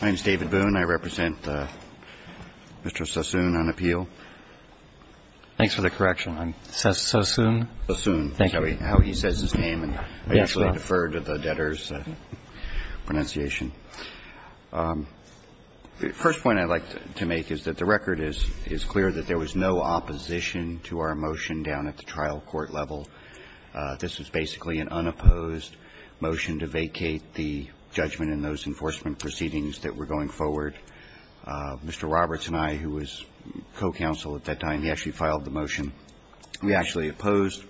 My name is David Boone. I represent Mr. Sasson on appeal. Thanks for the correction. I'm Sasson. Sasson, that's how he says his name. I actually defer to the debtor's pronunciation. The first point I'd like to make is that the record is clear that there was no opposition to our motion down at the trial court level. This was basically an unopposed motion to vacate the judgment in those enforcement proceedings that were going forward. Mr. Roberts and I, who was co-counsel at that time, we actually filed the motion. We actually opposed,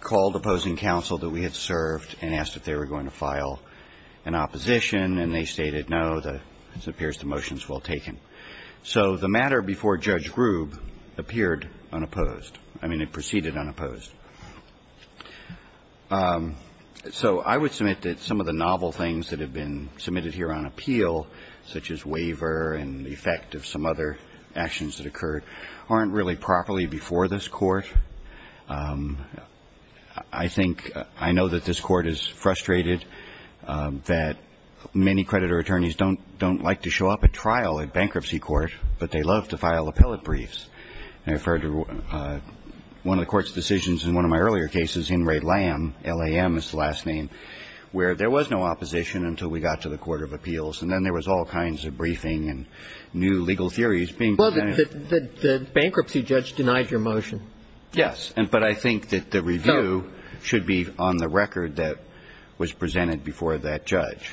called opposing counsel that we had served and asked if they were going to file an opposition. And they stated, no, it appears the motion is well taken. So the matter before Judge Grube appeared unopposed. I mean, it proceeded unopposed. So I would submit that some of the novel things that have been submitted here on appeal, such as waiver and the effect of some other actions that occurred, aren't really properly before this Court. I think, I know that this Court is frustrated that many creditor attorneys don't like to show up at trial at bankruptcy court, but they love to file appellate briefs. And I refer to one of the Court's decisions in one of my earlier cases, In re Lam, L-A-M is the last name, where there was no opposition until we got to the court of appeals. And then there was all kinds of briefing and new legal theories being presented. The bankruptcy judge denied your motion. Yes. But I think that the review should be on the record that was presented before that judge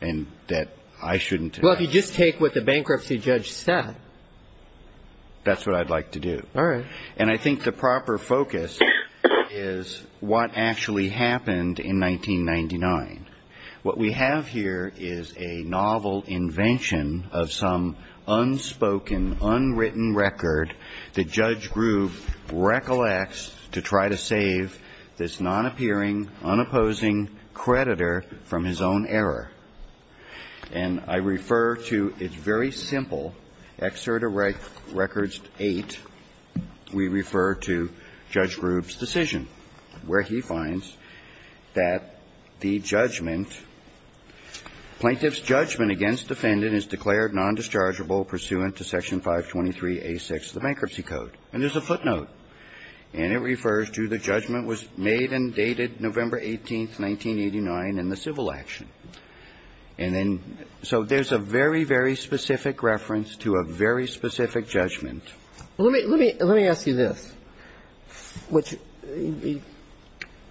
and that I shouldn't. Well, if you just take what the bankruptcy judge said. That's what I'd like to do. All right. And I think the proper focus is what actually happened in 1999. What we have here is a novel invention of some unspoken, unwritten record that Judge Groove recollects to try to save this non-appearing, unopposing creditor from his own error. And I refer to, it's very simple, Excerta Records 8, we refer to Judge Groove's decision, where he finds that the judgment, plaintiff's judgment against defendant is declared nondischargeable pursuant to Section 523A6 of the Bankruptcy Code. And there's a footnote. And it refers to the judgment was made and dated November 18, 1989 in the civil action. And then, so there's a very, very specific reference to a very specific judgment. Let me ask you this.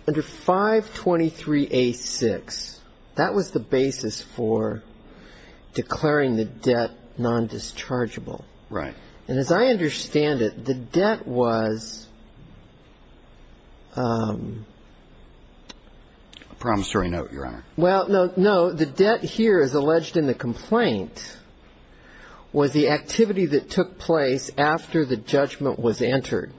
Under 523A6, that was the basis for declaring the debt nondischargeable. Right. And as I understand it, the debt was ‑‑ A promissory note, Your Honor. Well, no. The debt here, as alleged in the complaint, was the activity that took place after the judgment was entered.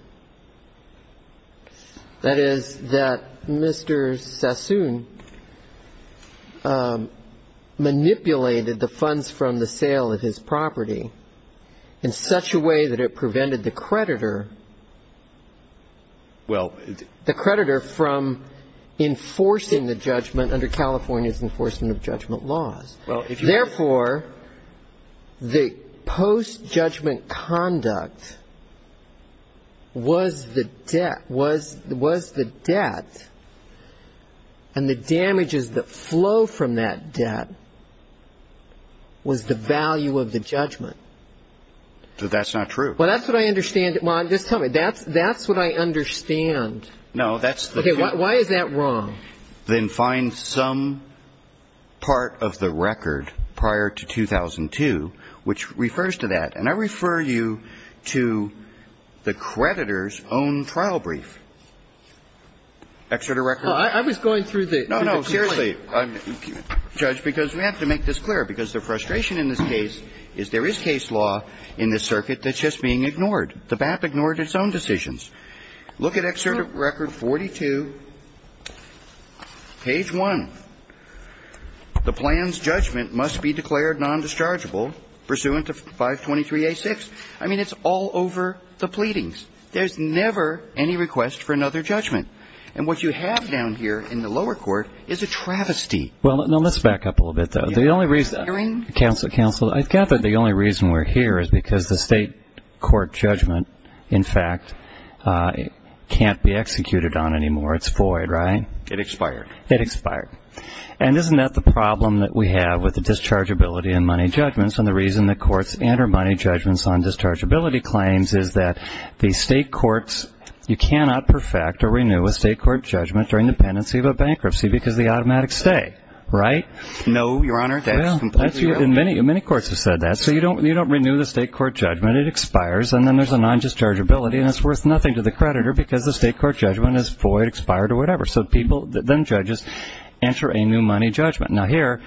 That is, that Mr. Sassoon manipulated the funds from the sale of his property in such a way that it prevented the creditor ‑‑ Well ‑‑ The creditor from enforcing the judgment under California's enforcement of judgment laws. Therefore, the postjudgment conduct was the debt and the damages that flow from that debt was the value of the judgment. But that's not true. Well, that's what I understand. Well, just tell me. That's what I understand. No, that's the ‑‑ Okay. Why is that wrong? Then find some part of the record prior to 2002 which refers to that. And I refer you to the creditor's own trial brief. Excerpt of record. I was going through the ‑‑ No, no. Seriously. Judge, because we have to make this clear. Because the frustration in this case is there is case law in this circuit that's just being ignored. The BAP ignored its own decisions. Look at excerpt of record 42, page 1. The plan's judgment must be declared nondischargeable pursuant to 523A6. I mean, it's all over the pleadings. There's never any request for another judgment. And what you have down here in the lower court is a travesty. Well, let's back up a little bit, though. Counsel, I gather the only reason we're here is because the state court judgment, in fact, can't be executed on anymore. It's void, right? It expired. It expired. And isn't that the problem that we have with the dischargeability in money judgments and the reason that courts enter money judgments on dischargeability claims is that the state courts, you cannot perfect or renew a state court judgment during the pendency of a bankruptcy because of the automatic stay, right? No, Your Honor. That's completely wrong. Many courts have said that. So you don't renew the state court judgment. It expires, and then there's a nondischargeability, and it's worth nothing to the creditor because the state court judgment is void, expired, or whatever. So then judges enter a new money judgment. Now, here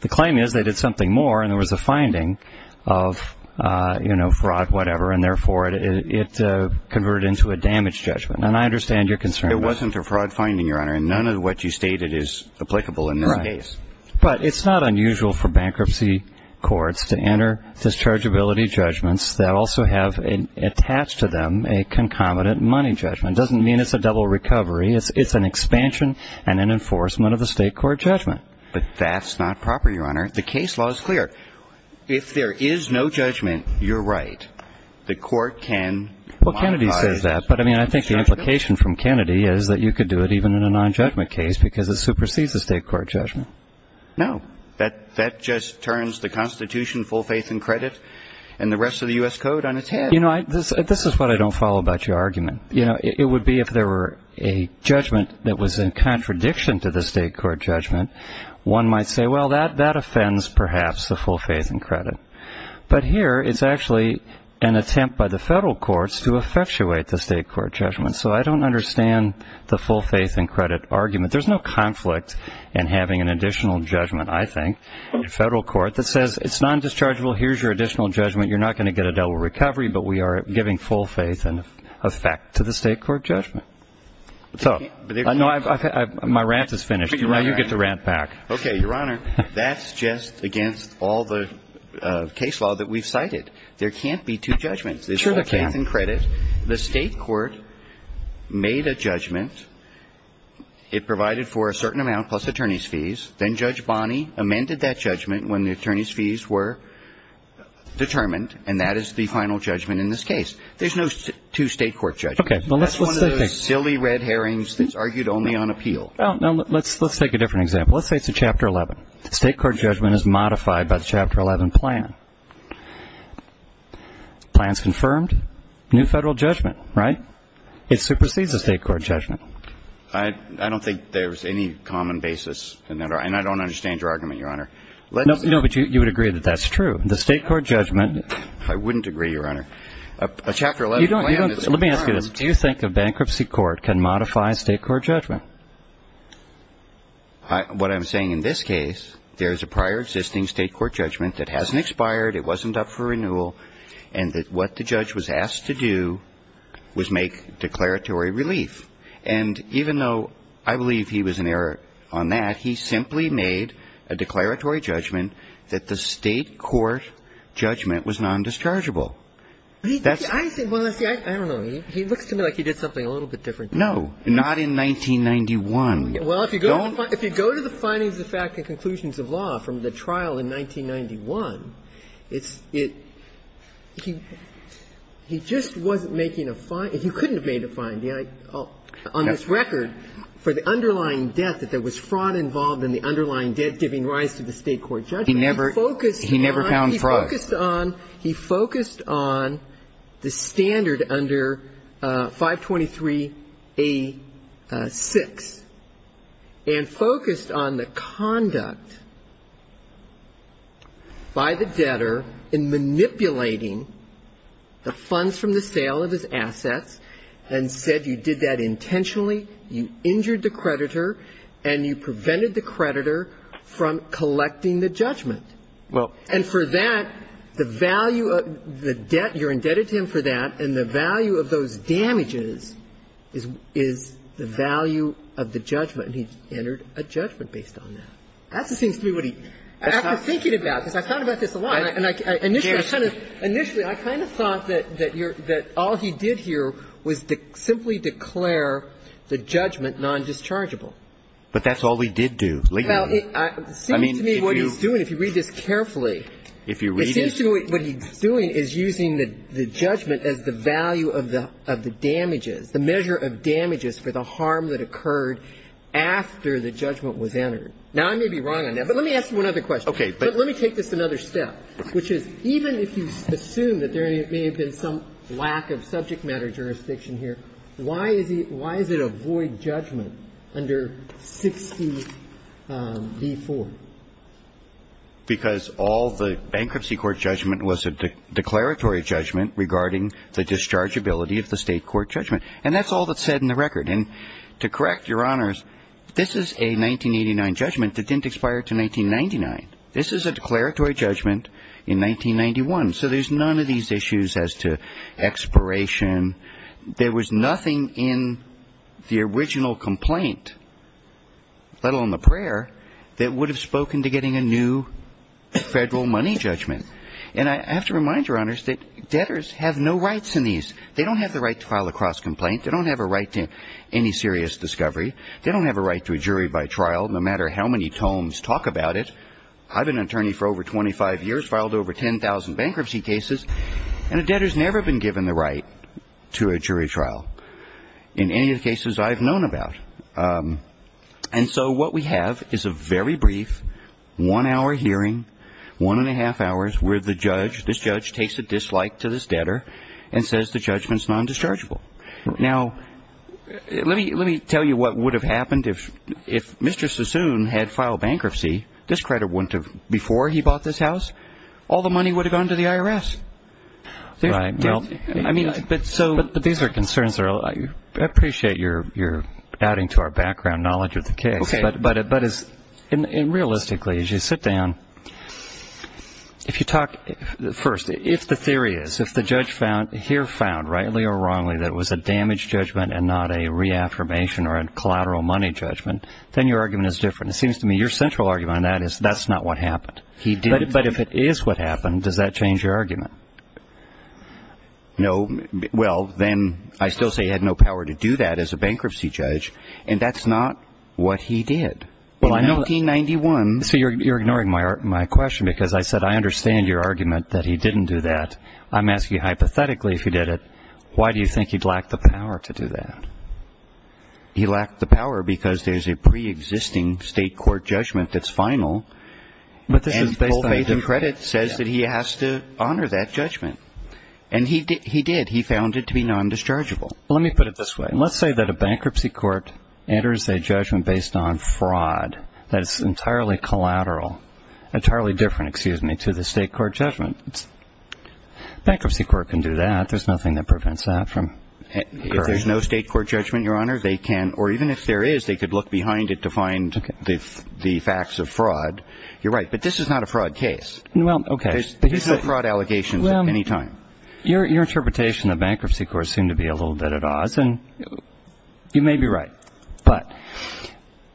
the claim is they did something more, and there was a finding of fraud, whatever, and therefore it converted into a damage judgment. And I understand your concern. It wasn't a fraud finding, Your Honor, and none of what you stated is applicable in this case. Right. But it's not unusual for bankruptcy courts to enter dischargeability judgments that also have attached to them a concomitant money judgment. It doesn't mean it's a double recovery. It's an expansion and an enforcement of the state court judgment. But that's not proper, Your Honor. The case law is clear. If there is no judgment, you're right. The court can modify it. Well, Kennedy says that. But, I mean, I think the implication from Kennedy is that you could do it even in a nonjudgment case because it supersedes the state court judgment. No. That just turns the Constitution, full faith and credit, and the rest of the U.S. Code on its head. You know, this is what I don't follow about your argument. You know, it would be if there were a judgment that was in contradiction to the state court judgment, one might say, well, that offends perhaps the full faith and credit. But here it's actually an attempt by the federal courts to effectuate the state court judgment. So I don't understand the full faith and credit argument. There's no conflict in having an additional judgment, I think, in federal court that says it's nondischargeable, here's your additional judgment, you're not going to get a double recovery, but we are giving full faith and effect to the state court judgment. So my rant is finished. Now you get to rant back. Okay, Your Honor, that's just against all the case law that we've cited. There can't be two judgments. There's full faith and credit. The state court made a judgment. It provided for a certain amount plus attorney's fees. Then Judge Bonney amended that judgment when the attorney's fees were determined, and that is the final judgment in this case. There's no two state court judgments. That's one of those silly red herrings that's argued only on appeal. Let's take a different example. Let's say it's a Chapter 11. State court judgment is modified by the Chapter 11 plan. Plan's confirmed, new federal judgment, right? It supersedes the state court judgment. I don't think there's any common basis, and I don't understand your argument, Your Honor. No, but you would agree that that's true. The state court judgment – I wouldn't agree, Your Honor. A Chapter 11 plan is – Let me ask you this. Do you think a bankruptcy court can modify a state court judgment? Your Honor, what I'm saying in this case, there's a prior existing state court judgment that hasn't expired, it wasn't up for renewal, and that what the judge was asked to do was make declaratory relief. And even though I believe he was in error on that, he simply made a declaratory judgment that the state court judgment was nondischargeable. I think – well, see, I don't know. He looks to me like he did something a little bit different. No, not in 1991. Well, if you go to the findings of fact and conclusions of law from the trial in 1991, it's – he just wasn't making a – he couldn't have made a finding. On this record, for the underlying debt, that there was fraud involved in the underlying debt giving rise to the state court judgment, he focused on – He never found fraud. He focused on the standard under 523A6 and focused on the conduct by the debtor in manipulating the funds from the sale of his assets and said you did that intentionally, you injured the creditor, and you prevented the creditor from collecting the judgment. And for that, the value of the debt, you're indebted to him for that, and the value of those damages is the value of the judgment. And he entered a judgment based on that. That just seems to me what he – I've been thinking about this. I've thought about this a lot. And I – initially, I kind of thought that you're – that all he did here was to simply declare the judgment nondischargeable. But that's all he did do, legally. Well, it seems to me what he's doing, if you read this carefully, it seems to me what he's doing is using the judgment as the value of the damages, the measure of damages for the harm that occurred after the judgment was entered. Now, I may be wrong on that, but let me ask you one other question. Okay. But let me take this another step, which is even if you assume that there may have been some lack of subject matter jurisdiction here, why is he – why does it avoid the judgment under 60b-4? Because all the bankruptcy court judgment was a declaratory judgment regarding the dischargeability of the State court judgment. And that's all that's said in the record. And to correct Your Honors, this is a 1989 judgment that didn't expire until 1999. This is a declaratory judgment in 1991. So there's none of these issues as to expiration. There was nothing in the original complaint, let alone the prayer, that would have spoken to getting a new Federal money judgment. And I have to remind Your Honors that debtors have no rights in these. They don't have the right to file a cross-complaint. They don't have a right to any serious discovery. They don't have a right to a jury by trial, no matter how many tomes talk about it. I've been an attorney for over 25 years, filed over 10,000 bankruptcy cases, and a jury trial in any of the cases I've known about. And so what we have is a very brief one-hour hearing, one-and-a-half hours, where the judge – this judge takes a dislike to this debtor and says the judgment's non-dischargeable. Now, let me tell you what would have happened if Mr. Sassoon had filed bankruptcy. This credit wouldn't have – before he bought this house, all the money would have gone to the IRS. Right. Well, I mean – But these are concerns that are – I appreciate you're adding to our background knowledge of the case. Okay. But realistically, as you sit down, if you talk – first, if the theory is, if the judge here found, rightly or wrongly, that it was a damage judgment and not a reaffirmation or a collateral money judgment, then your argument is different. It seems to me your central argument on that is that's not what happened. He did. But if it is what happened, does that change your argument? No. Well, then I still say he had no power to do that as a bankruptcy judge, and that's not what he did. Well, I know – In 1991 – So you're ignoring my question because I said I understand your argument that he didn't do that. I'm asking hypothetically if he did it, why do you think he'd lack the power to do that? He lacked the power because there's a pre-existing state court judgment that's But this is based on – And full faith and credit says that he has to honor that judgment. And he did. He found it to be non-dischargeable. Well, let me put it this way. Let's say that a bankruptcy court enters a judgment based on fraud that is entirely collateral – entirely different, excuse me, to the state court judgment. Bankruptcy court can do that. There's nothing that prevents that from occurring. If there's no state court judgment, Your Honor, they can – or even if there is, they could look behind it to find the facts of fraud. You're right. But this is not a fraud case. Well, okay. These are fraud allegations at any time. Your interpretation of bankruptcy courts seem to be a little bit at odds. And you may be right. But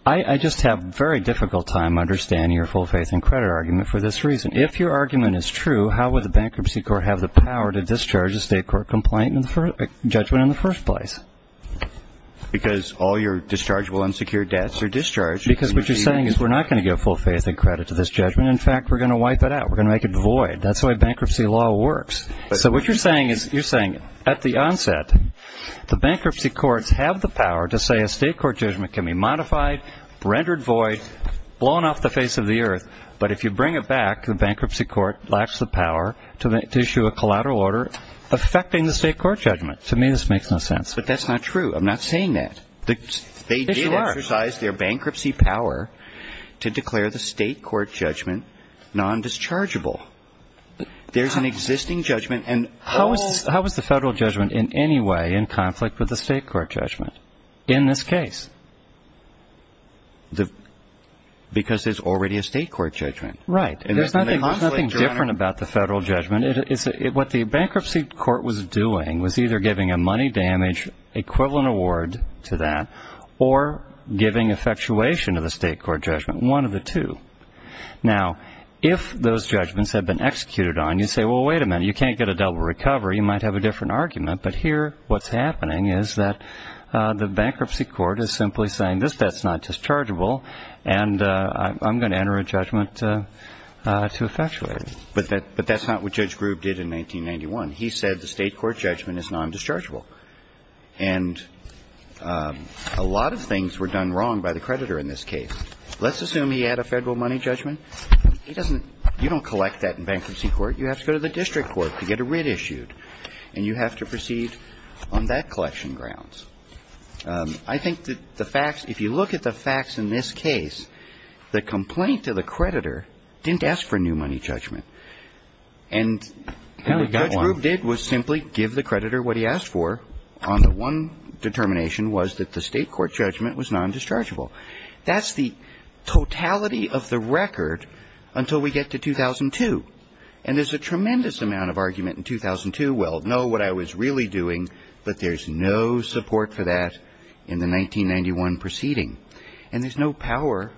I just have very difficult time understanding your full faith and credit argument for this reason. If your argument is true, how would the bankruptcy court have the power to discharge a state court judgment in the first place? Because all your dischargeable unsecured debts are discharged. Because what you're saying is we're not going to give full faith and credit to this judgment. In fact, we're going to wipe it out. We're going to make it void. That's the way bankruptcy law works. So what you're saying is – you're saying at the onset, the bankruptcy courts have the power to say a state court judgment can be modified, rendered void, blown off the face of the earth. But if you bring it back, the bankruptcy court lacks the power to issue a collateral order affecting the state court judgment. To me, this makes no sense. But that's not true. I'm not saying that. They did exercise their bankruptcy power to declare the state court judgment non-dischargeable. There's an existing judgment. How is the federal judgment in any way in conflict with the state court judgment in this case? Because there's already a state court judgment. Right. There's nothing different about the federal judgment. What the bankruptcy court was doing was either giving a money damage equivalent award to that or giving effectuation of the state court judgment, one of the two. Now, if those judgments had been executed on, you'd say, well, wait a minute. You can't get a double recovery. You might have a different argument. But here, what's happening is that the bankruptcy court is simply saying, this debt's not dischargeable, and I'm going to enter a judgment to effectuate it. But that's not what Judge Grube did in 1991. He said the state court judgment is non-dischargeable. And a lot of things were done wrong by the creditor in this case. Let's assume he had a federal money judgment. He doesn't – you don't collect that in bankruptcy court. You have to go to the district court to get a writ issued, and you have to proceed on that collection grounds. I think that the facts – if you look at the facts in this case, the complaint to the creditor didn't ask for a new money judgment. And what Judge Grube did was simply give the creditor what he asked for on the one determination was that the state court judgment was non-dischargeable. That's the totality of the record until we get to 2002. And there's a tremendous amount of argument in 2002, well, no, what I was really doing, but there's no support for that in the 1991 proceeding. And there's no power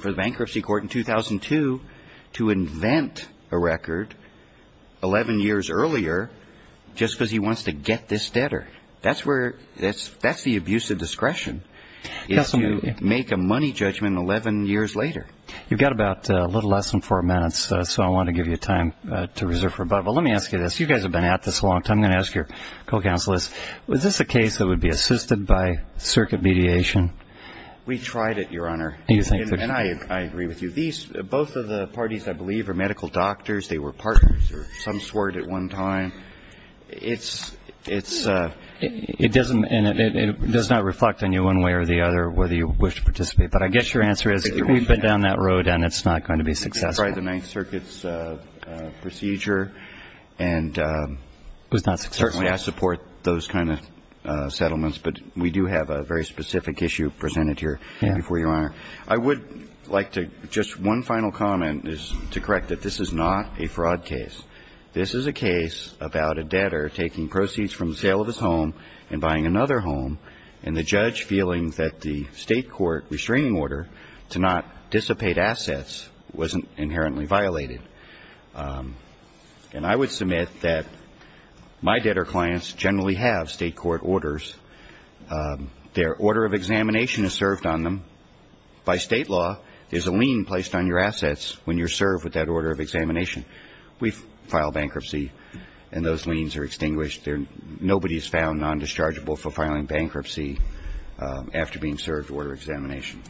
for the bankruptcy court in 2002 to invent a record 11 years earlier just because he wants to get this debtor. That's where – that's the abuse of discretion, is to make a money judgment 11 years later. You've got about a little less than four minutes, so I want to give you time to reserve for a bubble. Let me ask you this. You guys have been at this a long time. I'm going to ask your co-counsel is, was this a case that would be assisted by the Ninth Circuit mediation? We tried it, Your Honor. And I agree with you. Both of the parties, I believe, are medical doctors. They were partners. Some swerved at one time. It doesn't – and it does not reflect on you one way or the other whether you wish to participate. But I guess your answer is we've been down that road and it's not going to be successful. We tried the Ninth Circuit's procedure and it was not successful. Certainly I support those kind of settlements, but we do have a very specific issue presented here before you, Your Honor. I would like to – just one final comment is to correct that this is not a fraud case. This is a case about a debtor taking proceeds from the sale of his home and buying another home, and the judge feeling that the State court restraining order to not dissipate assets was inherently violated. And I would submit that my debtor clients generally have State court orders. Their order of examination is served on them. By State law, there's a lien placed on your assets when you're served with that order of examination. We file bankruptcy and those liens are extinguished. Nobody is found non-dischargeable for filing bankruptcy after being served order examination.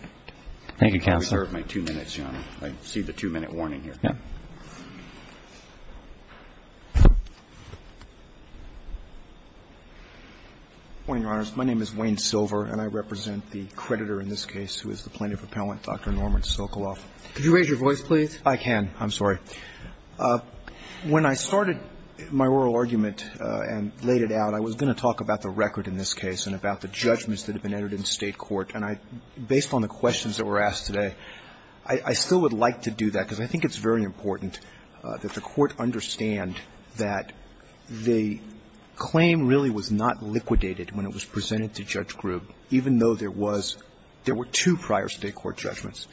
Thank you, Counselor. I reserve my two minutes, Your Honor. I see the two-minute warning here. Yeah. My name is Wayne Silver, and I represent the creditor in this case who is the plaintiff appellant, Dr. Norman Sokoloff. Could you raise your voice, please? I can. I'm sorry. When I started my oral argument and laid it out, I was going to talk about the record in this case and about the judgments that have been entered in State court. And based on the questions that were asked today, I still would like to do that because I think it's very important that the Court understand that the claim really was not liquidated when it was presented to Judge Grubb, even though there was – there were two prior State court judgments.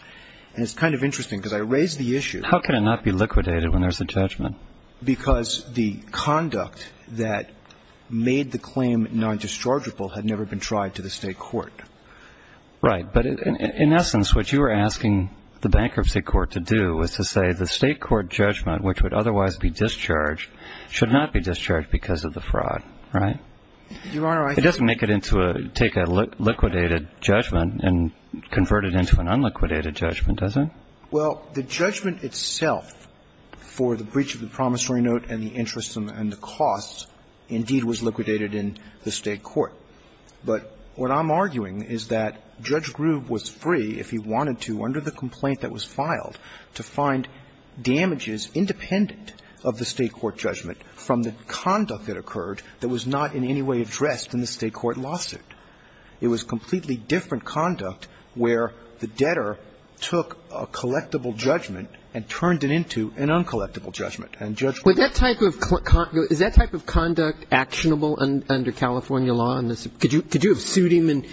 And it's kind of interesting because I raised the issue. How can it not be liquidated when there's a judgment? Because the conduct that made the claim non-dischargeable had never been tried to the State court. Right. But in essence, what you are asking the bankruptcy court to do is to say the State court judgment, which would otherwise be discharged, should not be discharged because of the fraud. Right? Your Honor, I think – It doesn't make it into a – take a liquidated judgment and convert it into an unliquidated judgment, does it? Well, the judgment itself for the breach of the promissory note and the interest and the costs indeed was liquidated in the State court. But what I'm arguing is that Judge Grubb was free, if he wanted to, under the complaint that was filed, to find damages independent of the State court judgment from the conduct that occurred that was not in any way addressed in the State court lawsuit. It was completely different conduct where the debtor took a collectible judgment and turned it into an uncollectible judgment. But that type of – is that type of conduct actionable under California law? Could you have sued him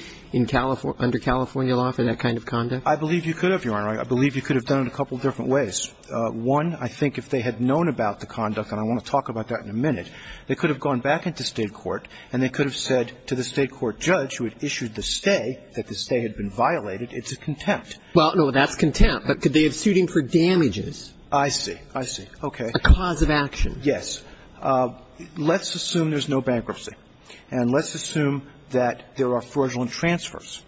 under California law for that kind of conduct? I believe you could have, Your Honor. I believe you could have done it a couple of different ways. One, I think if they had known about the conduct, and I want to talk about that in a minute, they could have gone back into State court and they could have said to the State court judge who had issued the stay that the stay had been violated, it's a contempt. Well, no, that's contempt. But could they have sued him for damages? I see. I see. Okay. A cause of action. Yes. Let's assume there's no bankruptcy. And let's assume that there are fraudulent transfers,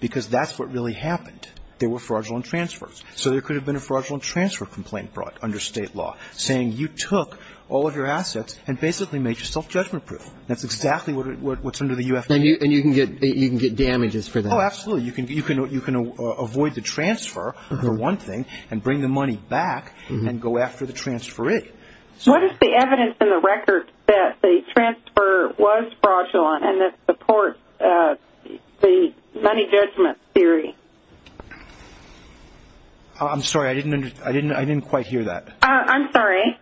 because that's what really happened. There were fraudulent transfers. So there could have been a fraudulent transfer complaint brought under State law saying you took all of your assets and basically made yourself judgment-proof. That's exactly what's under the U.F.C.A. And you can get damages for that. Oh, absolutely. You can avoid the transfer for one thing and bring the money back and go after the transferee. What is the evidence in the record that the transfer was fraudulent and that supports the money judgment theory? I'm sorry. I didn't quite hear that. I'm sorry.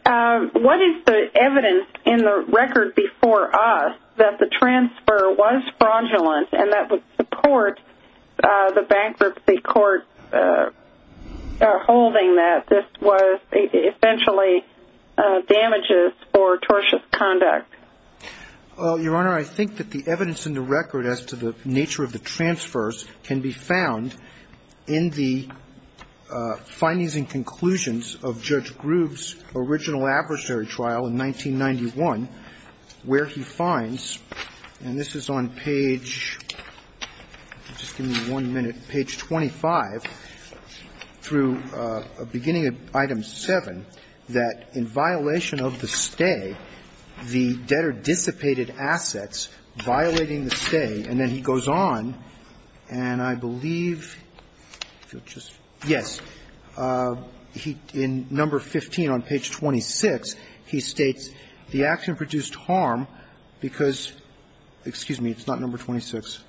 What is the evidence in the record before us that the transfer was fraudulent and that would support the bankruptcy court holding that this was essentially damages for tortious conduct? Your Honor, I think that the evidence in the record as to the nature of the transfers can be found in the findings and conclusions of Judge Groove's original adversary trial in 1991, where he finds, and this is on page 5, just give me one minute, page 25, through beginning of item 7, that in violation of the stay, the debtor dissipated assets violating the stay, and then he goes on and I believe, if you'll just, yes, he, in number 15 on page 26, he states the action produced harm because, excuse me, it's not number 26.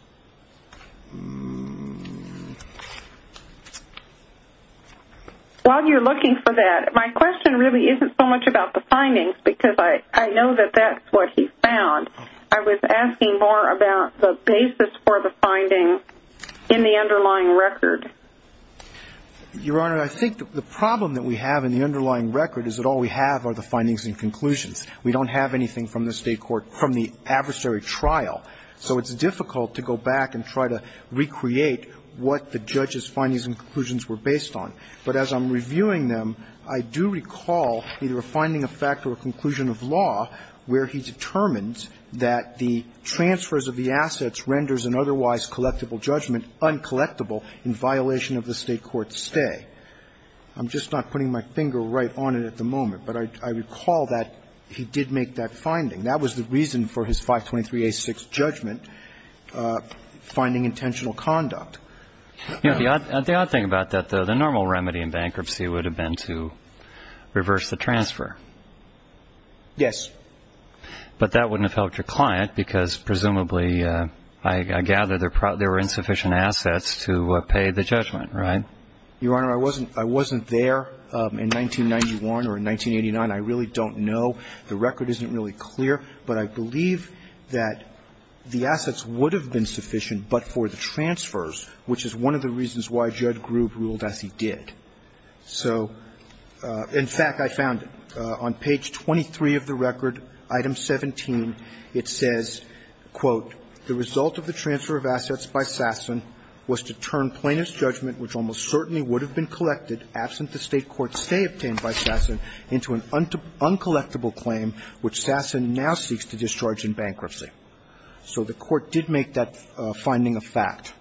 While you're looking for that, my question really isn't so much about the findings because I know that that's what he found. I was asking more about the basis for the findings in the underlying record. Your Honor, I think the problem that we have in the underlying record is that all we have are the findings and conclusions. We don't have anything from the state court, from the adversary trial, so it's difficult to go back and try to recreate what the judge's findings and conclusions were based on. But as I'm reviewing them, I do recall either a finding of fact or a conclusion of law where he determines that the transfers of the assets renders an otherwise collectible judgment uncollectible in violation of the state court's stay. I'm just not putting my finger right on it at the moment, but I recall that he did make that finding. That was the reason for his 523A6 judgment, finding intentional conduct. The odd thing about that, though, the normal remedy in bankruptcy would have been to reverse the transfer. Yes. But that wouldn't have helped your client because presumably, I gather, there were insufficient assets to pay the judgment, right? Your Honor, I wasn't there in 1991 or in 1989. I really don't know. The record isn't really clear. But I believe that the assets would have been sufficient but for the transfers, which is one of the reasons why Judd Grube ruled as he did. So, in fact, I found it. On page 23 of the record, item 17, it says, quote, So the court did make that finding a fact.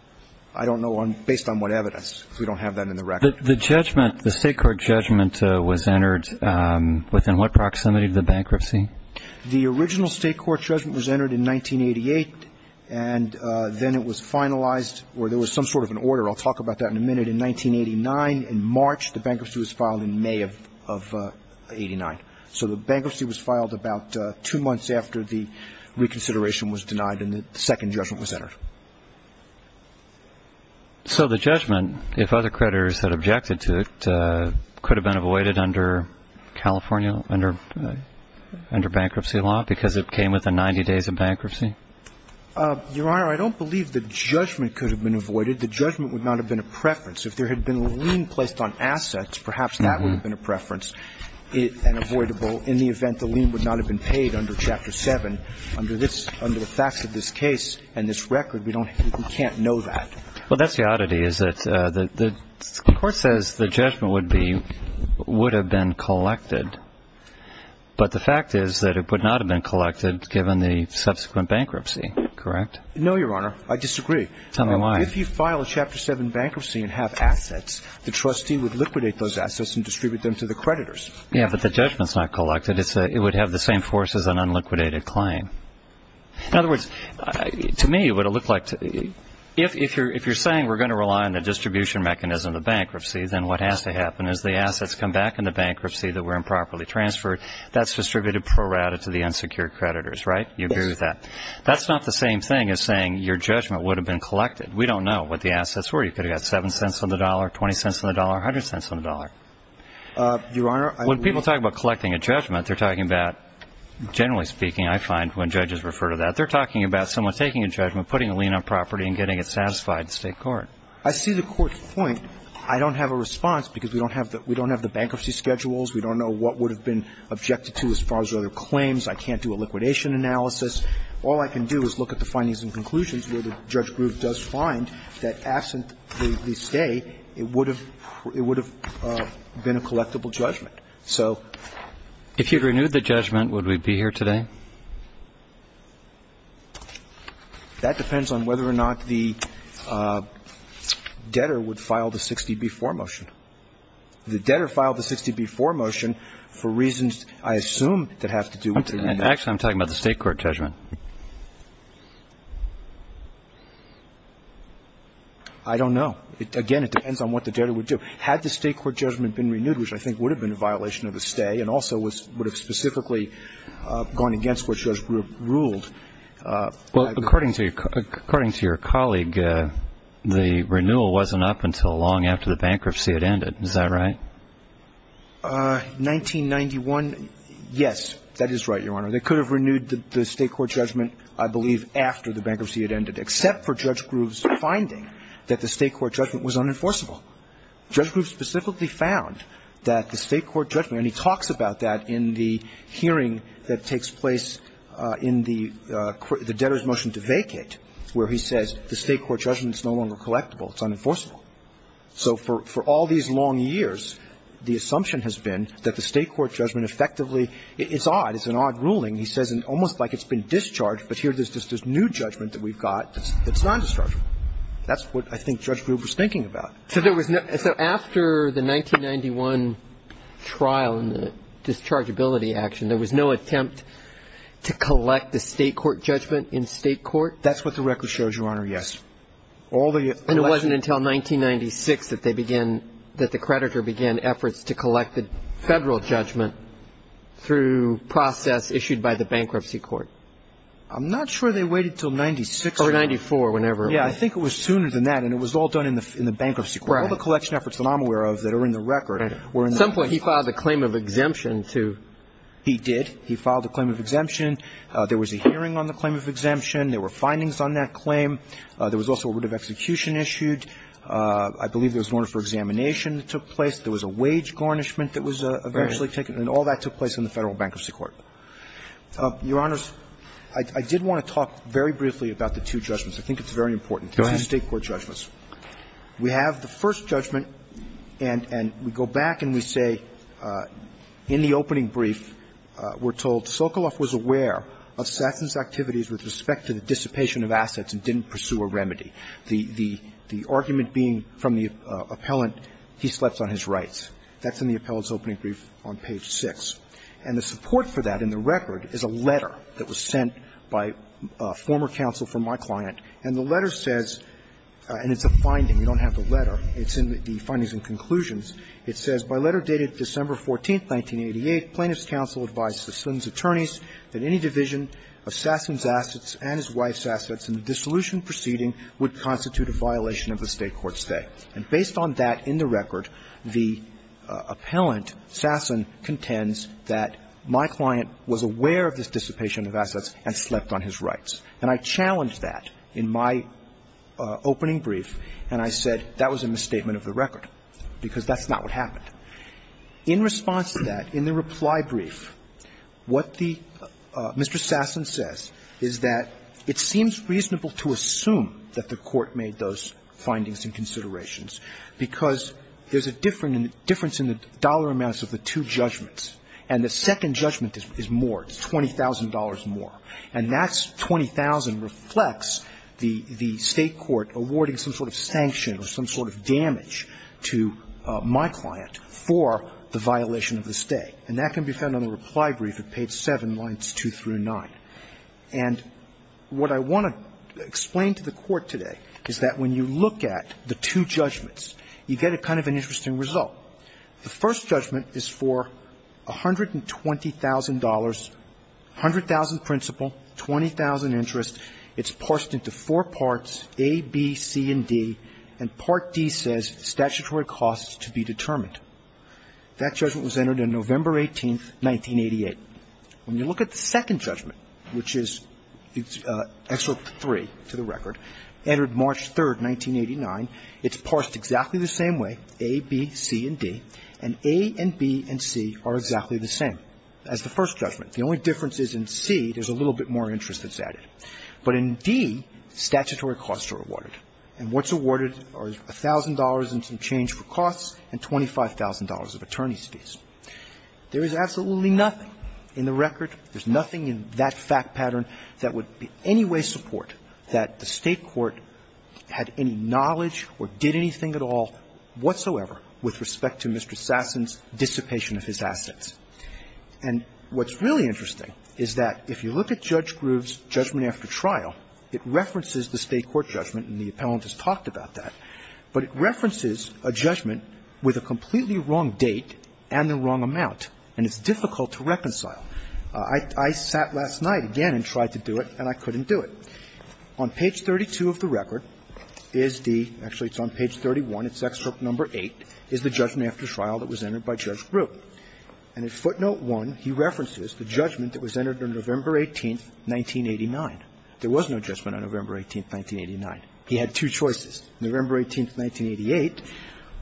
I don't know based on what evidence. We don't have that in the record. The judgment, the state court judgment, was entered within what proximity to the bankruptcy? The original state court judgment was entered in 1988. It's not in the record. And then it was finalized or there was some sort of an order. I'll talk about that in a minute. In 1989, in March, the bankruptcy was filed in May of 89. So the bankruptcy was filed about two months after the reconsideration was denied and the second judgment was entered. So the judgment, if other creditors had objected to it, could have been avoided under California, under bankruptcy law, because it came within 90 days of bankruptcy? Your Honor, I don't believe the judgment could have been avoided. The judgment would not have been a preference. If there had been a lien placed on assets, perhaps that would have been a preference and avoidable in the event the lien would not have been paid under Chapter 7. Under the facts of this case and this record, we can't know that. Well, that's the oddity, is that the court says the judgment would have been collected. But the fact is that it would not have been collected given the subsequent bankruptcy, correct? No, Your Honor. I disagree. Tell me why. If you file a Chapter 7 bankruptcy and have assets, the trustee would liquidate those assets and distribute them to the creditors. Yeah, but the judgment's not collected. It would have the same force as an unliquidated claim. In other words, to me, what it looked like, if you're saying we're going to rely on the distribution mechanism of bankruptcy, then what has to happen is the assets come back in the bankruptcy that were improperly transferred. That's distributed pro rata to the unsecured creditors, right? Yes. You agree with that? That's not the same thing as saying your judgment would have been collected. We don't know what the assets were. You could have got 7 cents on the dollar, 20 cents on the dollar, 100 cents on the dollar. Your Honor, I agree. When people talk about collecting a judgment, they're talking about, generally speaking, I find when judges refer to that, they're talking about someone taking a judgment, putting a lien on property, and getting it satisfied in state court. I see the court's point. I don't have a response because we don't have the bankruptcy schedules. We don't know what would have been objected to as far as other claims. I can't do a liquidation analysis. All I can do is look at the findings and conclusions where the judge group does find that absent the stay, it would have been a collectible judgment. So ---- If you'd renewed the judgment, would we be here today? That depends on whether or not the debtor would file the 60-B-4 motion. The debtor filed the 60-B-4 motion for reasons I assume that have to do with the renewal. Actually, I'm talking about the State court judgment. I don't know. Again, it depends on what the debtor would do. Had the State court judgment been renewed, which I think would have been a violation of the stay and also would have specifically gone against what Judge Groove ruled ---- Well, according to your colleague, the renewal wasn't up until long after the bankruptcy had ended. Is that right? 1991, yes. That is right, Your Honor. They could have renewed the State court judgment, I believe, after the bankruptcy had ended, except for Judge Groove's finding that the State court judgment was unenforceable. Judge Groove specifically found that the State court judgment, and he talks about that in the hearing that takes place in the debtor's motion to vacate, where he says the State court judgment is no longer collectible. It's unenforceable. So for all these long years, the assumption has been that the State court judgment effectively ---- it's odd. It's an odd ruling. He says almost like it's been discharged, but here there's this new judgment that we've got that's non-dischargeable. That's what I think Judge Groove was thinking about. So there was no ---- so after the 1991 trial and the dischargeability action, there was no attempt to collect the State court judgment in State court? That's what the record shows, Your Honor, yes. And it wasn't until 1996 that they began ---- that the creditor began efforts to collect the Federal judgment through process issued by the bankruptcy court? I'm not sure they waited until 96. Or 94, whenever. Yeah, I think it was sooner than that. And it was all done in the bankruptcy court. Right. All the collection efforts that I'm aware of that are in the record were in the bankruptcy court. At some point he filed a claim of exemption to ---- He did. He filed a claim of exemption. There was a hearing on the claim of exemption. There were findings on that claim. There was also a writ of execution issued. I believe there was an order for examination that took place. There was a wage garnishment that was eventually taken. And all that took place in the Federal bankruptcy court. Your Honors, I did want to talk very briefly about the two judgments. I think it's very important. Go ahead. State court judgments. We have the first judgment and we go back and we say in the opening brief we're told Sokolov was aware of Sasson's activities with respect to the dissipation of assets and didn't pursue a remedy. The argument being from the appellant, he slept on his rights. That's in the appellant's opening brief on page 6. And the support for that in the record is a letter that was sent by a former counsel from my client, and the letter says, and it's a finding, you don't have the letter. It's in the findings and conclusions. It says, By letter dated December 14th, 1988, Plaintiff's counsel advised Sasson's attorneys that any division of Sasson's assets and his wife's assets in the dissolution proceeding would constitute a violation of the State court's stay. And based on that in the record, the appellant, Sasson, contends that my client was aware of this dissipation of assets and slept on his rights. And I challenged that in my opening brief, and I said that was a misstatement of the record, because that's not what happened. In response to that, in the reply brief, what the Mr. Sasson says is that it seems reasonable to assume that the Court made those findings and considerations because there's a difference in the dollar amounts of the two judgments. And the second judgment is more, it's $20,000 more. And that $20,000 reflects the State court awarding some sort of sanction or some sort of damage to my client for the violation of the stay. And that can be found on the reply brief at page 7, lines 2 through 9. And what I want to explain to the Court today is that when you look at the two judgments, you get a kind of an interesting result. The first judgment is for $120,000, 100,000 principal, 20,000 interest. It's parsed into four parts, A, B, C, and D, and Part D says statutory costs to be determined. That judgment was entered on November 18, 1988. When you look at the second judgment, which is Excerpt 3 to the record, entered March 3, 1989, it's parsed exactly the same way, A, B, C, and D. And A and B and C are exactly the same as the first judgment. The only difference is in C, there's a little bit more interest that's added. But in D, statutory costs are awarded. And what's awarded are $1,000 and some change for costs and $25,000 of attorney's fees. There is absolutely nothing in the record, there's nothing in that fact pattern that would in any way support that the State court had any knowledge or did anything at all whatsoever with respect to Mr. Sasson's dissipation of his assets. And what's really interesting is that if you look at Judge Groove's judgment after trial, it references the State court judgment, and the appellant has talked about that, but it references a judgment with a completely wrong date and the wrong amount, and it's difficult to reconcile. I sat last night again and tried to do it, and I couldn't do it. On page 32 of the record is the – actually, it's on page 31. It's excerpt number 8, is the judgment after trial that was entered by Judge Groove. And in footnote 1, he references the judgment that was entered on November 18, 1989. There was no judgment on November 18, 1989. He had two choices. November 18, 1988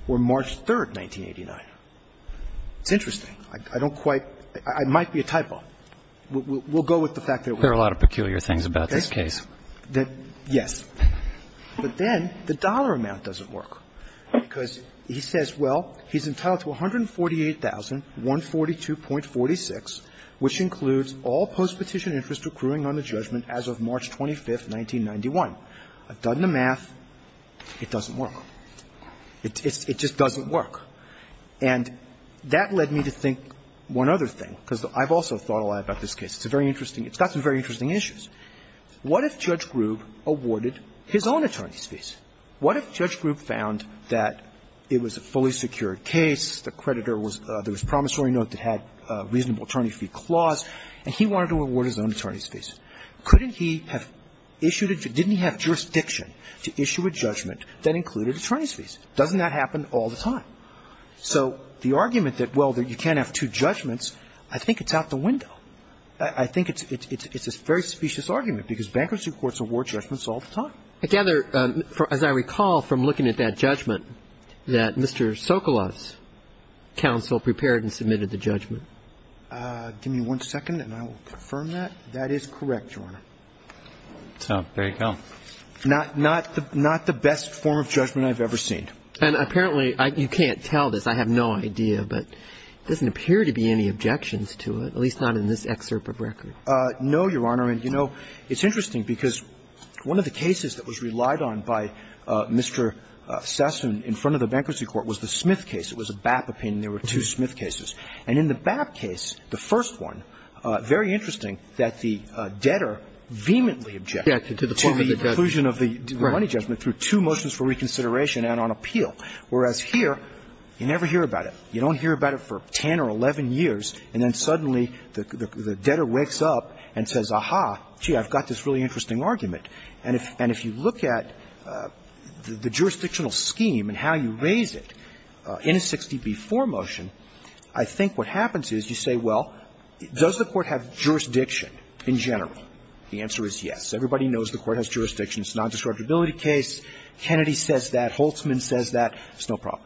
or March 3, 1989. It's interesting. I don't quite – it might be a typo. We'll go with the fact that it was. There are a lot of peculiar things about this case. Yes. But then the dollar amount doesn't work, because he says, well, he's entitled to $148,142.46, which includes all postpetition interest accruing on the judgment as of March 25, 1991. I've done the math. It doesn't work. It just doesn't work. And that led me to think one other thing, because I've also thought a lot about this case. It's a very interesting – it's got some very interesting issues. What if Judge Groove awarded his own attorney's fees? What if Judge Groove found that it was a fully secured case, the creditor was – there was promissory note that had a reasonable attorney fee clause, and he wanted to award his own attorney's fees? Couldn't he have issued – didn't he have jurisdiction to issue a judgment that included attorney's fees? Doesn't that happen all the time? So the argument that, well, you can't have two judgments, I think it's out the window. I think it's a very specious argument, because bankruptcy courts award judgments all the time. I gather, as I recall from looking at that judgment, that Mr. Sokoloff's counsel prepared and submitted the judgment. Give me one second, and I will confirm that. That is correct, Your Honor. So, there you go. Not the best form of judgment I've ever seen. And apparently – you can't tell this. I have no idea. But there doesn't appear to be any objections to it, at least not in this excerpt of record. No, Your Honor. And, you know, it's interesting, because one of the cases that was relied on by Mr. Sesson in front of the bankruptcy court was the Smith case. It was a BAP opinion. There were two Smith cases. And in the BAP case, the first one, very interesting, that the debtor vehemently objected to the conclusion of the money judgment through two motions for reconsideration and on appeal, whereas here, you never hear about it. You don't hear about it for 10 or 11 years, and then suddenly the debtor wakes up and says, aha, gee, I've got this really interesting argument. And if you look at the jurisdictional scheme and how you raise it in a 60B4 motion, I think what happens is you say, well, does the Court have jurisdiction in general? The answer is yes. Everybody knows the Court has jurisdiction. It's a nondiscriminability case. Kennedy says that. Holtzman says that. It's no problem.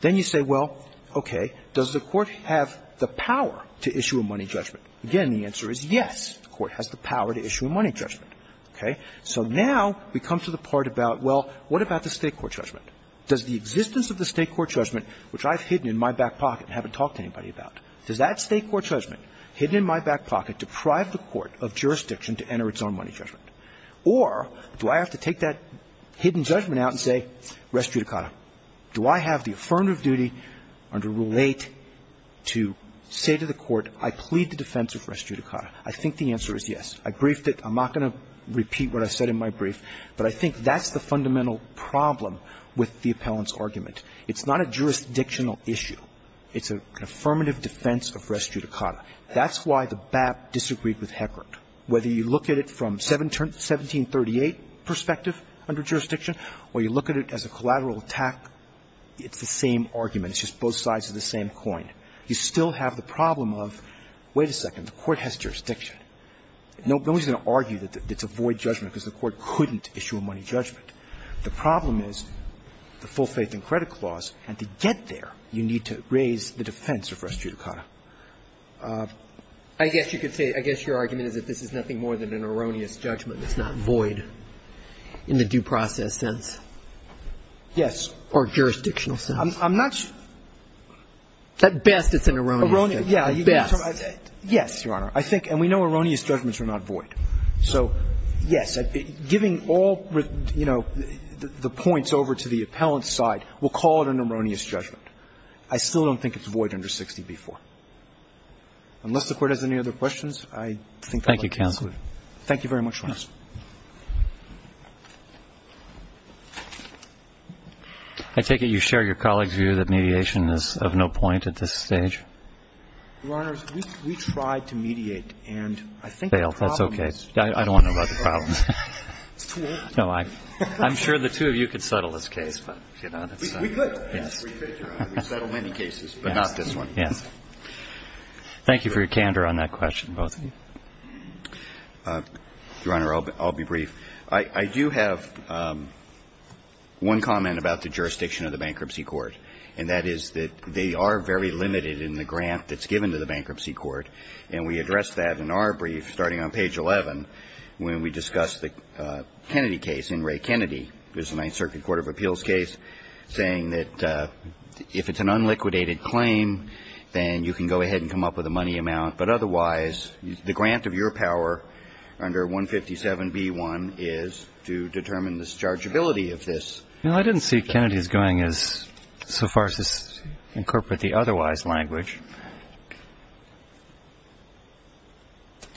Then you say, well, okay, does the Court have the power to issue a money judgment? Again, the answer is yes. The Court has the power to issue a money judgment. Okay? So now we come to the part about, well, what about the State court judgment? Does the existence of the State court judgment, which I've hidden in my back pocket and haven't talked to anybody about, does that State court judgment hidden in my back Or do I have to take that hidden judgment out and say res judicata? Do I have the affirmative duty under Rule 8 to say to the Court, I plead the defense of res judicata? I think the answer is yes. I briefed it. I'm not going to repeat what I said in my brief. But I think that's the fundamental problem with the appellant's argument. It's not a jurisdictional issue. It's an affirmative defense of res judicata. That's why the BAP disagreed with Heckert. It's a very important point. Whether you look at it from 1738 perspective under jurisdiction or you look at it as a collateral attack, it's the same argument. It's just both sides of the same coin. You still have the problem of, wait a second, the Court has jurisdiction. No one's going to argue that it's a void judgment because the Court couldn't issue a money judgment. The problem is the full faith and credit clause, and to get there, you need to raise the defense of res judicata. I guess you could say, I guess your argument is that this is nothing more than an erroneous judgment. It's not void in the due process sense. Yes. Or jurisdictional sense. I'm not sure. At best, it's an erroneous judgment. At best. Yes, Your Honor. I think, and we know erroneous judgments are not void. So yes, giving all, you know, the points over to the appellant's side, we'll call it an erroneous judgment. I still don't think it's void under 60b-4. Unless the Court has any other questions, I think I'll conclude. Thank you, counsel. Thank you very much, Your Honor. I take it you share your colleagues' view that mediation is of no point at this stage? Your Honor, we tried to mediate, and I think the problem is we failed. That's okay. I don't want to know about the problems. It's too late. No, I'm sure the two of you could settle this case. We could. Yes. Thank you for your candor on that question, both of you. Your Honor, I'll be brief. I do have one comment about the jurisdiction of the Bankruptcy Court, and that is that they are very limited in the grant that's given to the Bankruptcy Court. And we addressed that in our brief, starting on page 11, when we discussed the Kennedy case in Ray Kennedy. It was the Ninth Circuit Court of Appeals case, saying that, you know, if it's an unliquidated claim, then you can go ahead and come up with a money amount. But otherwise, the grant of your power under 157B1 is to determine the chargeability of this. Well, I didn't see Kennedy's going so far as to incorporate the otherwise language.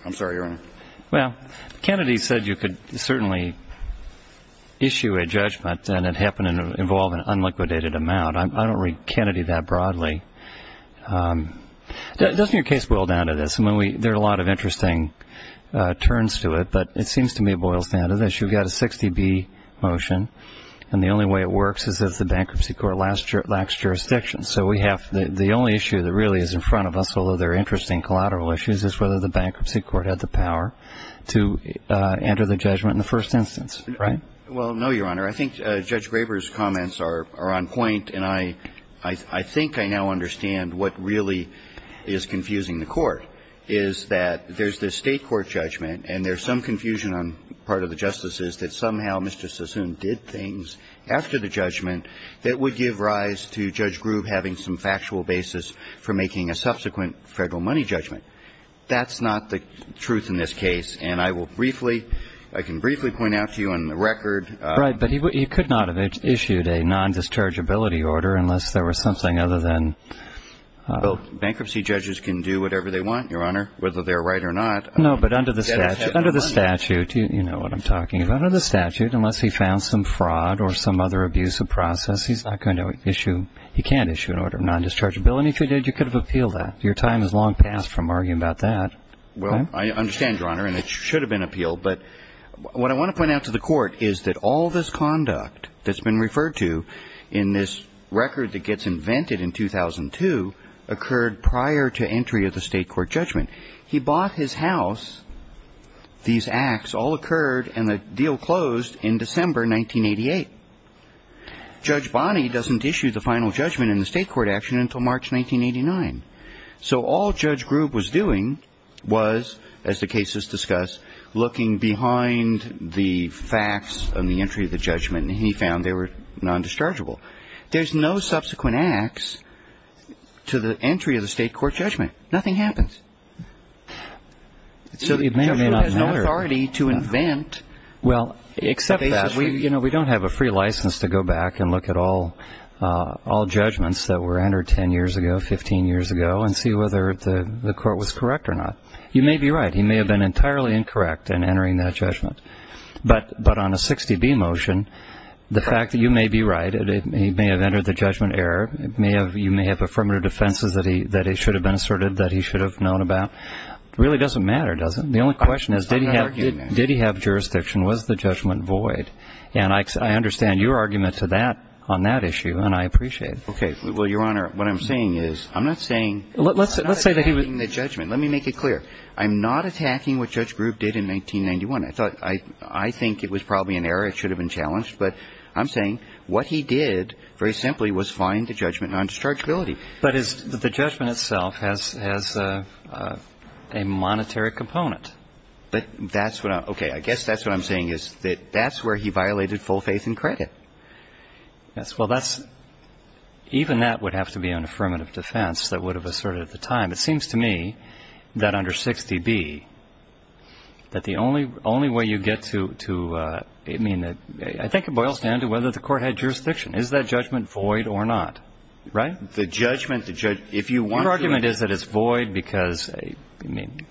I'm sorry, Your Honor. Well, Kennedy said you could certainly issue a judgment, and it happened to involve an unliquidated amount. I don't read Kennedy that broadly. Doesn't your case boil down to this? I mean, there are a lot of interesting turns to it. But it seems to me it boils down to this. You've got a 60B motion, and the only way it works is if the Bankruptcy Court lacks jurisdiction. So we have the only issue that really is in front of us, although there are interesting collateral issues, is whether the Bankruptcy Court had the power to enter the judgment in the first instance, right? Well, no, Your Honor. I think Judge Graber's comments are on point, and I think I now understand what really is confusing the Court, is that there's this State court judgment and there's some confusion on part of the justices that somehow Mr. Sassoon did things after the judgment that would give rise to Judge Grube having some factual basis for making a subsequent Federal money judgment. That's not the truth in this case. And I will briefly, I can briefly point out to you on the record. Right. But he could not have issued a non-dischargeability order unless there was something other than. Well, bankruptcy judges can do whatever they want, Your Honor, whether they're right or not. No, but under the statute, you know what I'm talking about. Under the statute, unless he found some fraud or some other abusive process, he's not going to issue, he can't issue an order of non-dischargeability. If he did, you could have appealed that. Your time has long passed from arguing about that. Well, I understand, Your Honor, and it should have been appealed. But what I want to point out to the court is that all this conduct that's been referred to in this record that gets invented in 2002 occurred prior to entry of the State court judgment. He bought his house. These acts all occurred and the deal closed in December 1988. Judge Bonney doesn't issue the final judgment in the State court action until March 1989. So all Judge Grube was doing was, as the case is discussed, looking behind the facts on the entry of the judgment, and he found they were non-dischargeable. There's no subsequent acts to the entry of the State court judgment. Nothing happens. So Judge Grube has no authority to invent cases. Well, except that we don't have a free license to go back and look at all judgments that were entered 10 years ago, 15 years ago, and see whether the court was correct or not. You may be right. He may have been entirely incorrect in entering that judgment. But on a 60B motion, the fact that you may be right, he may have entered the judgment error, you may have affirmative defenses that he should have been asserted, that he should have known about, really doesn't matter, does it? The only question is, did he have jurisdiction? Was the judgment void? And I understand your argument to that on that issue, and I appreciate it. Okay. Well, Your Honor, what I'm saying is, I'm not saying he was not attacking the judgment. Let me make it clear. I'm not attacking what Judge Grube did in 1991. I think it was probably an error. It should have been challenged. But I'm saying what he did, very simply, was find the judgment non-dischargeability. But the judgment itself has a monetary component. But that's what I'm – okay. I guess that's what I'm saying is that that's where he violated full faith and credit. Yes. Well, that's – even that would have to be an affirmative defense that would have asserted at the time. It seems to me that under 6dB, that the only way you get to – I mean, I think it boils down to whether the court had jurisdiction. Is that judgment void or not? Right? The judgment – if you want to – Your argument is that it's void because, I mean,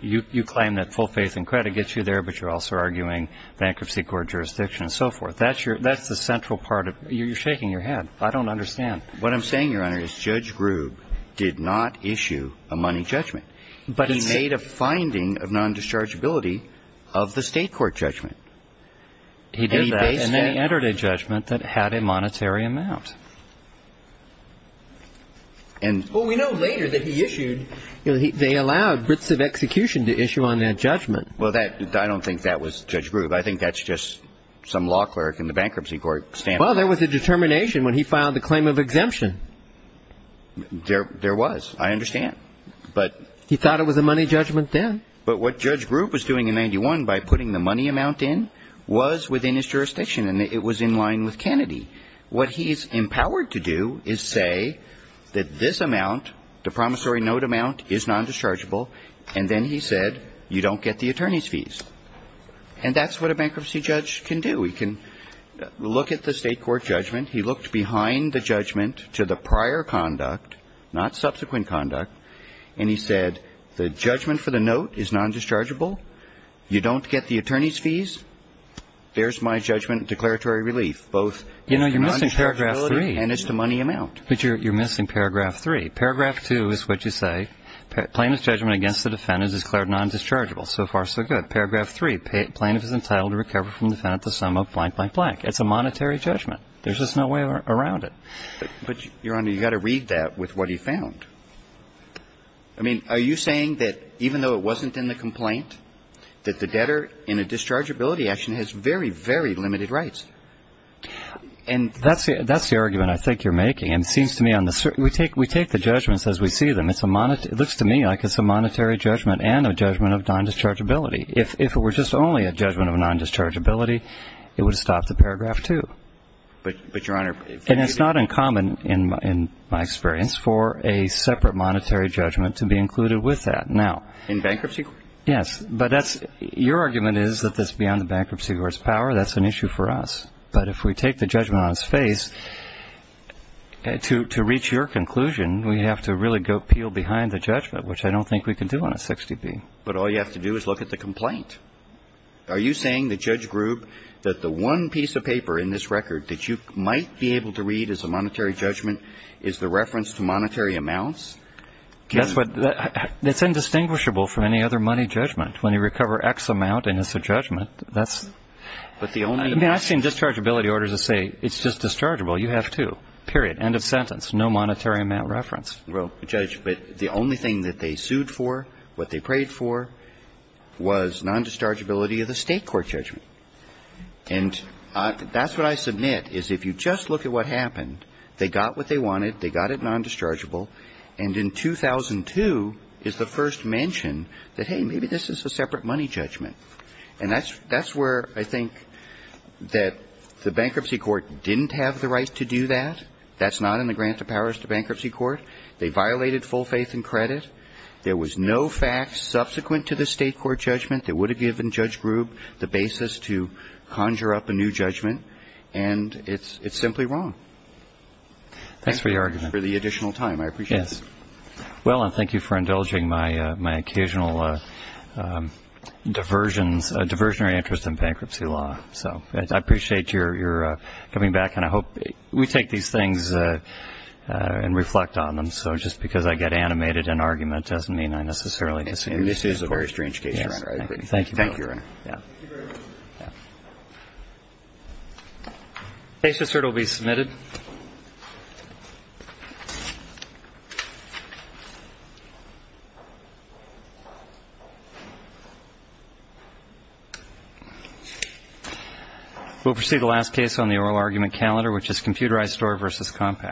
you claim that full faith and credit gets you there, but you're also arguing bankruptcy court jurisdiction and so forth. That's your – that's the central part of – you're shaking your head. I don't understand. What I'm saying, Your Honor, is Judge Grube did not issue a money judgment. But he said – He made a finding of non-dischargeability of the state court judgment. He did that. And then he entered a judgment that had a monetary amount. And – Well, we know later that he issued – they allowed writs of execution to issue on that judgment. Well, that – I don't think that was Judge Grube. I think that's just some law clerk in the bankruptcy court standing. Well, there was a determination when he filed the claim of exemption. There was. I understand. But – He thought it was a money judgment then. But what Judge Grube was doing in 91 by putting the money amount in was within his jurisdiction. And it was in line with Kennedy. What he's empowered to do is say that this amount, the promissory note amount, is non-dischargeable. And then he said, you don't get the attorney's fees. And that's what a bankruptcy judge can do. He can look at the state court judgment. He looked behind the judgment to the prior conduct, not subsequent conduct. And he said, the judgment for the note is non-dischargeable. You don't get the attorney's fees. There's my judgment declaratory relief, both – You know, you're missing paragraph three. And it's the money amount. But you're missing paragraph three. Paragraph two is what you say. Plaintiff's judgment against the defendant is declared non-dischargeable. So far, so good. Paragraph three, plaintiff is entitled to recover from the defendant the sum of blank, blank, blank. It's a monetary judgment. There's just no way around it. But, Your Honor, you've got to read that with what he found. I mean, are you saying that even though it wasn't in the complaint, that the debtor in a dischargeability action has very, very limited rights? And that's the argument I think you're making. And it seems to me on the – we take the judgments as we see them. It's a – it looks to me like it's a monetary judgment and a judgment of non-dischargeability. If it were just only a judgment of non-dischargeability, it would stop at paragraph two. But, Your Honor – And it's not uncommon, in my experience, for a separate monetary judgment to be included with that. Now – In bankruptcy court? Yes. But that's – your argument is that that's beyond the bankruptcy court's power. That's an issue for us. But if we take the judgment on its face, to reach your conclusion, we have to really go peel behind the judgment, which I don't think we can do on a 60B. But all you have to do is look at the complaint. Are you saying, the judge group, that the one piece of paper in this record that you might be able to read as a monetary judgment is the reference to monetary amounts? That's what – that's indistinguishable from any other money judgment. When you recover X amount and it's a judgment, that's – But the only – I mean, I've seen dischargeability orders that say, it's just dischargeable. You have to. Period. End of sentence. No monetary amount reference. Well, Judge, but the only thing that they sued for, what they prayed for, was non-dischargeability of the State court judgment. And that's what I submit, is if you just look at what happened, they got what they wanted. They got it non-dischargeable. And in 2002 is the first mention that, hey, maybe this is a separate money judgment. And that's where I think that the bankruptcy court didn't have the right to do that. That's not in the grant of powers to bankruptcy court. They violated full faith and credit. There was no facts subsequent to the State court judgment that would have given Judge Grube the basis to conjure up a new judgment. And it's simply wrong. Thanks for your argument. For the additional time. I appreciate it. Yes. Well, and thank you for indulging my occasional diversionary interest in bankruptcy law. So I appreciate your coming back. And I hope we take these things and reflect on them. So just because I get animated in argument doesn't mean I necessarily disagree. This is a very strange case, Your Honor. Thank you. Thank you, Your Honor. Thank you, sir. It will be submitted. We'll proceed to the last case on the oral argument calendar, which is computerized store versus compact.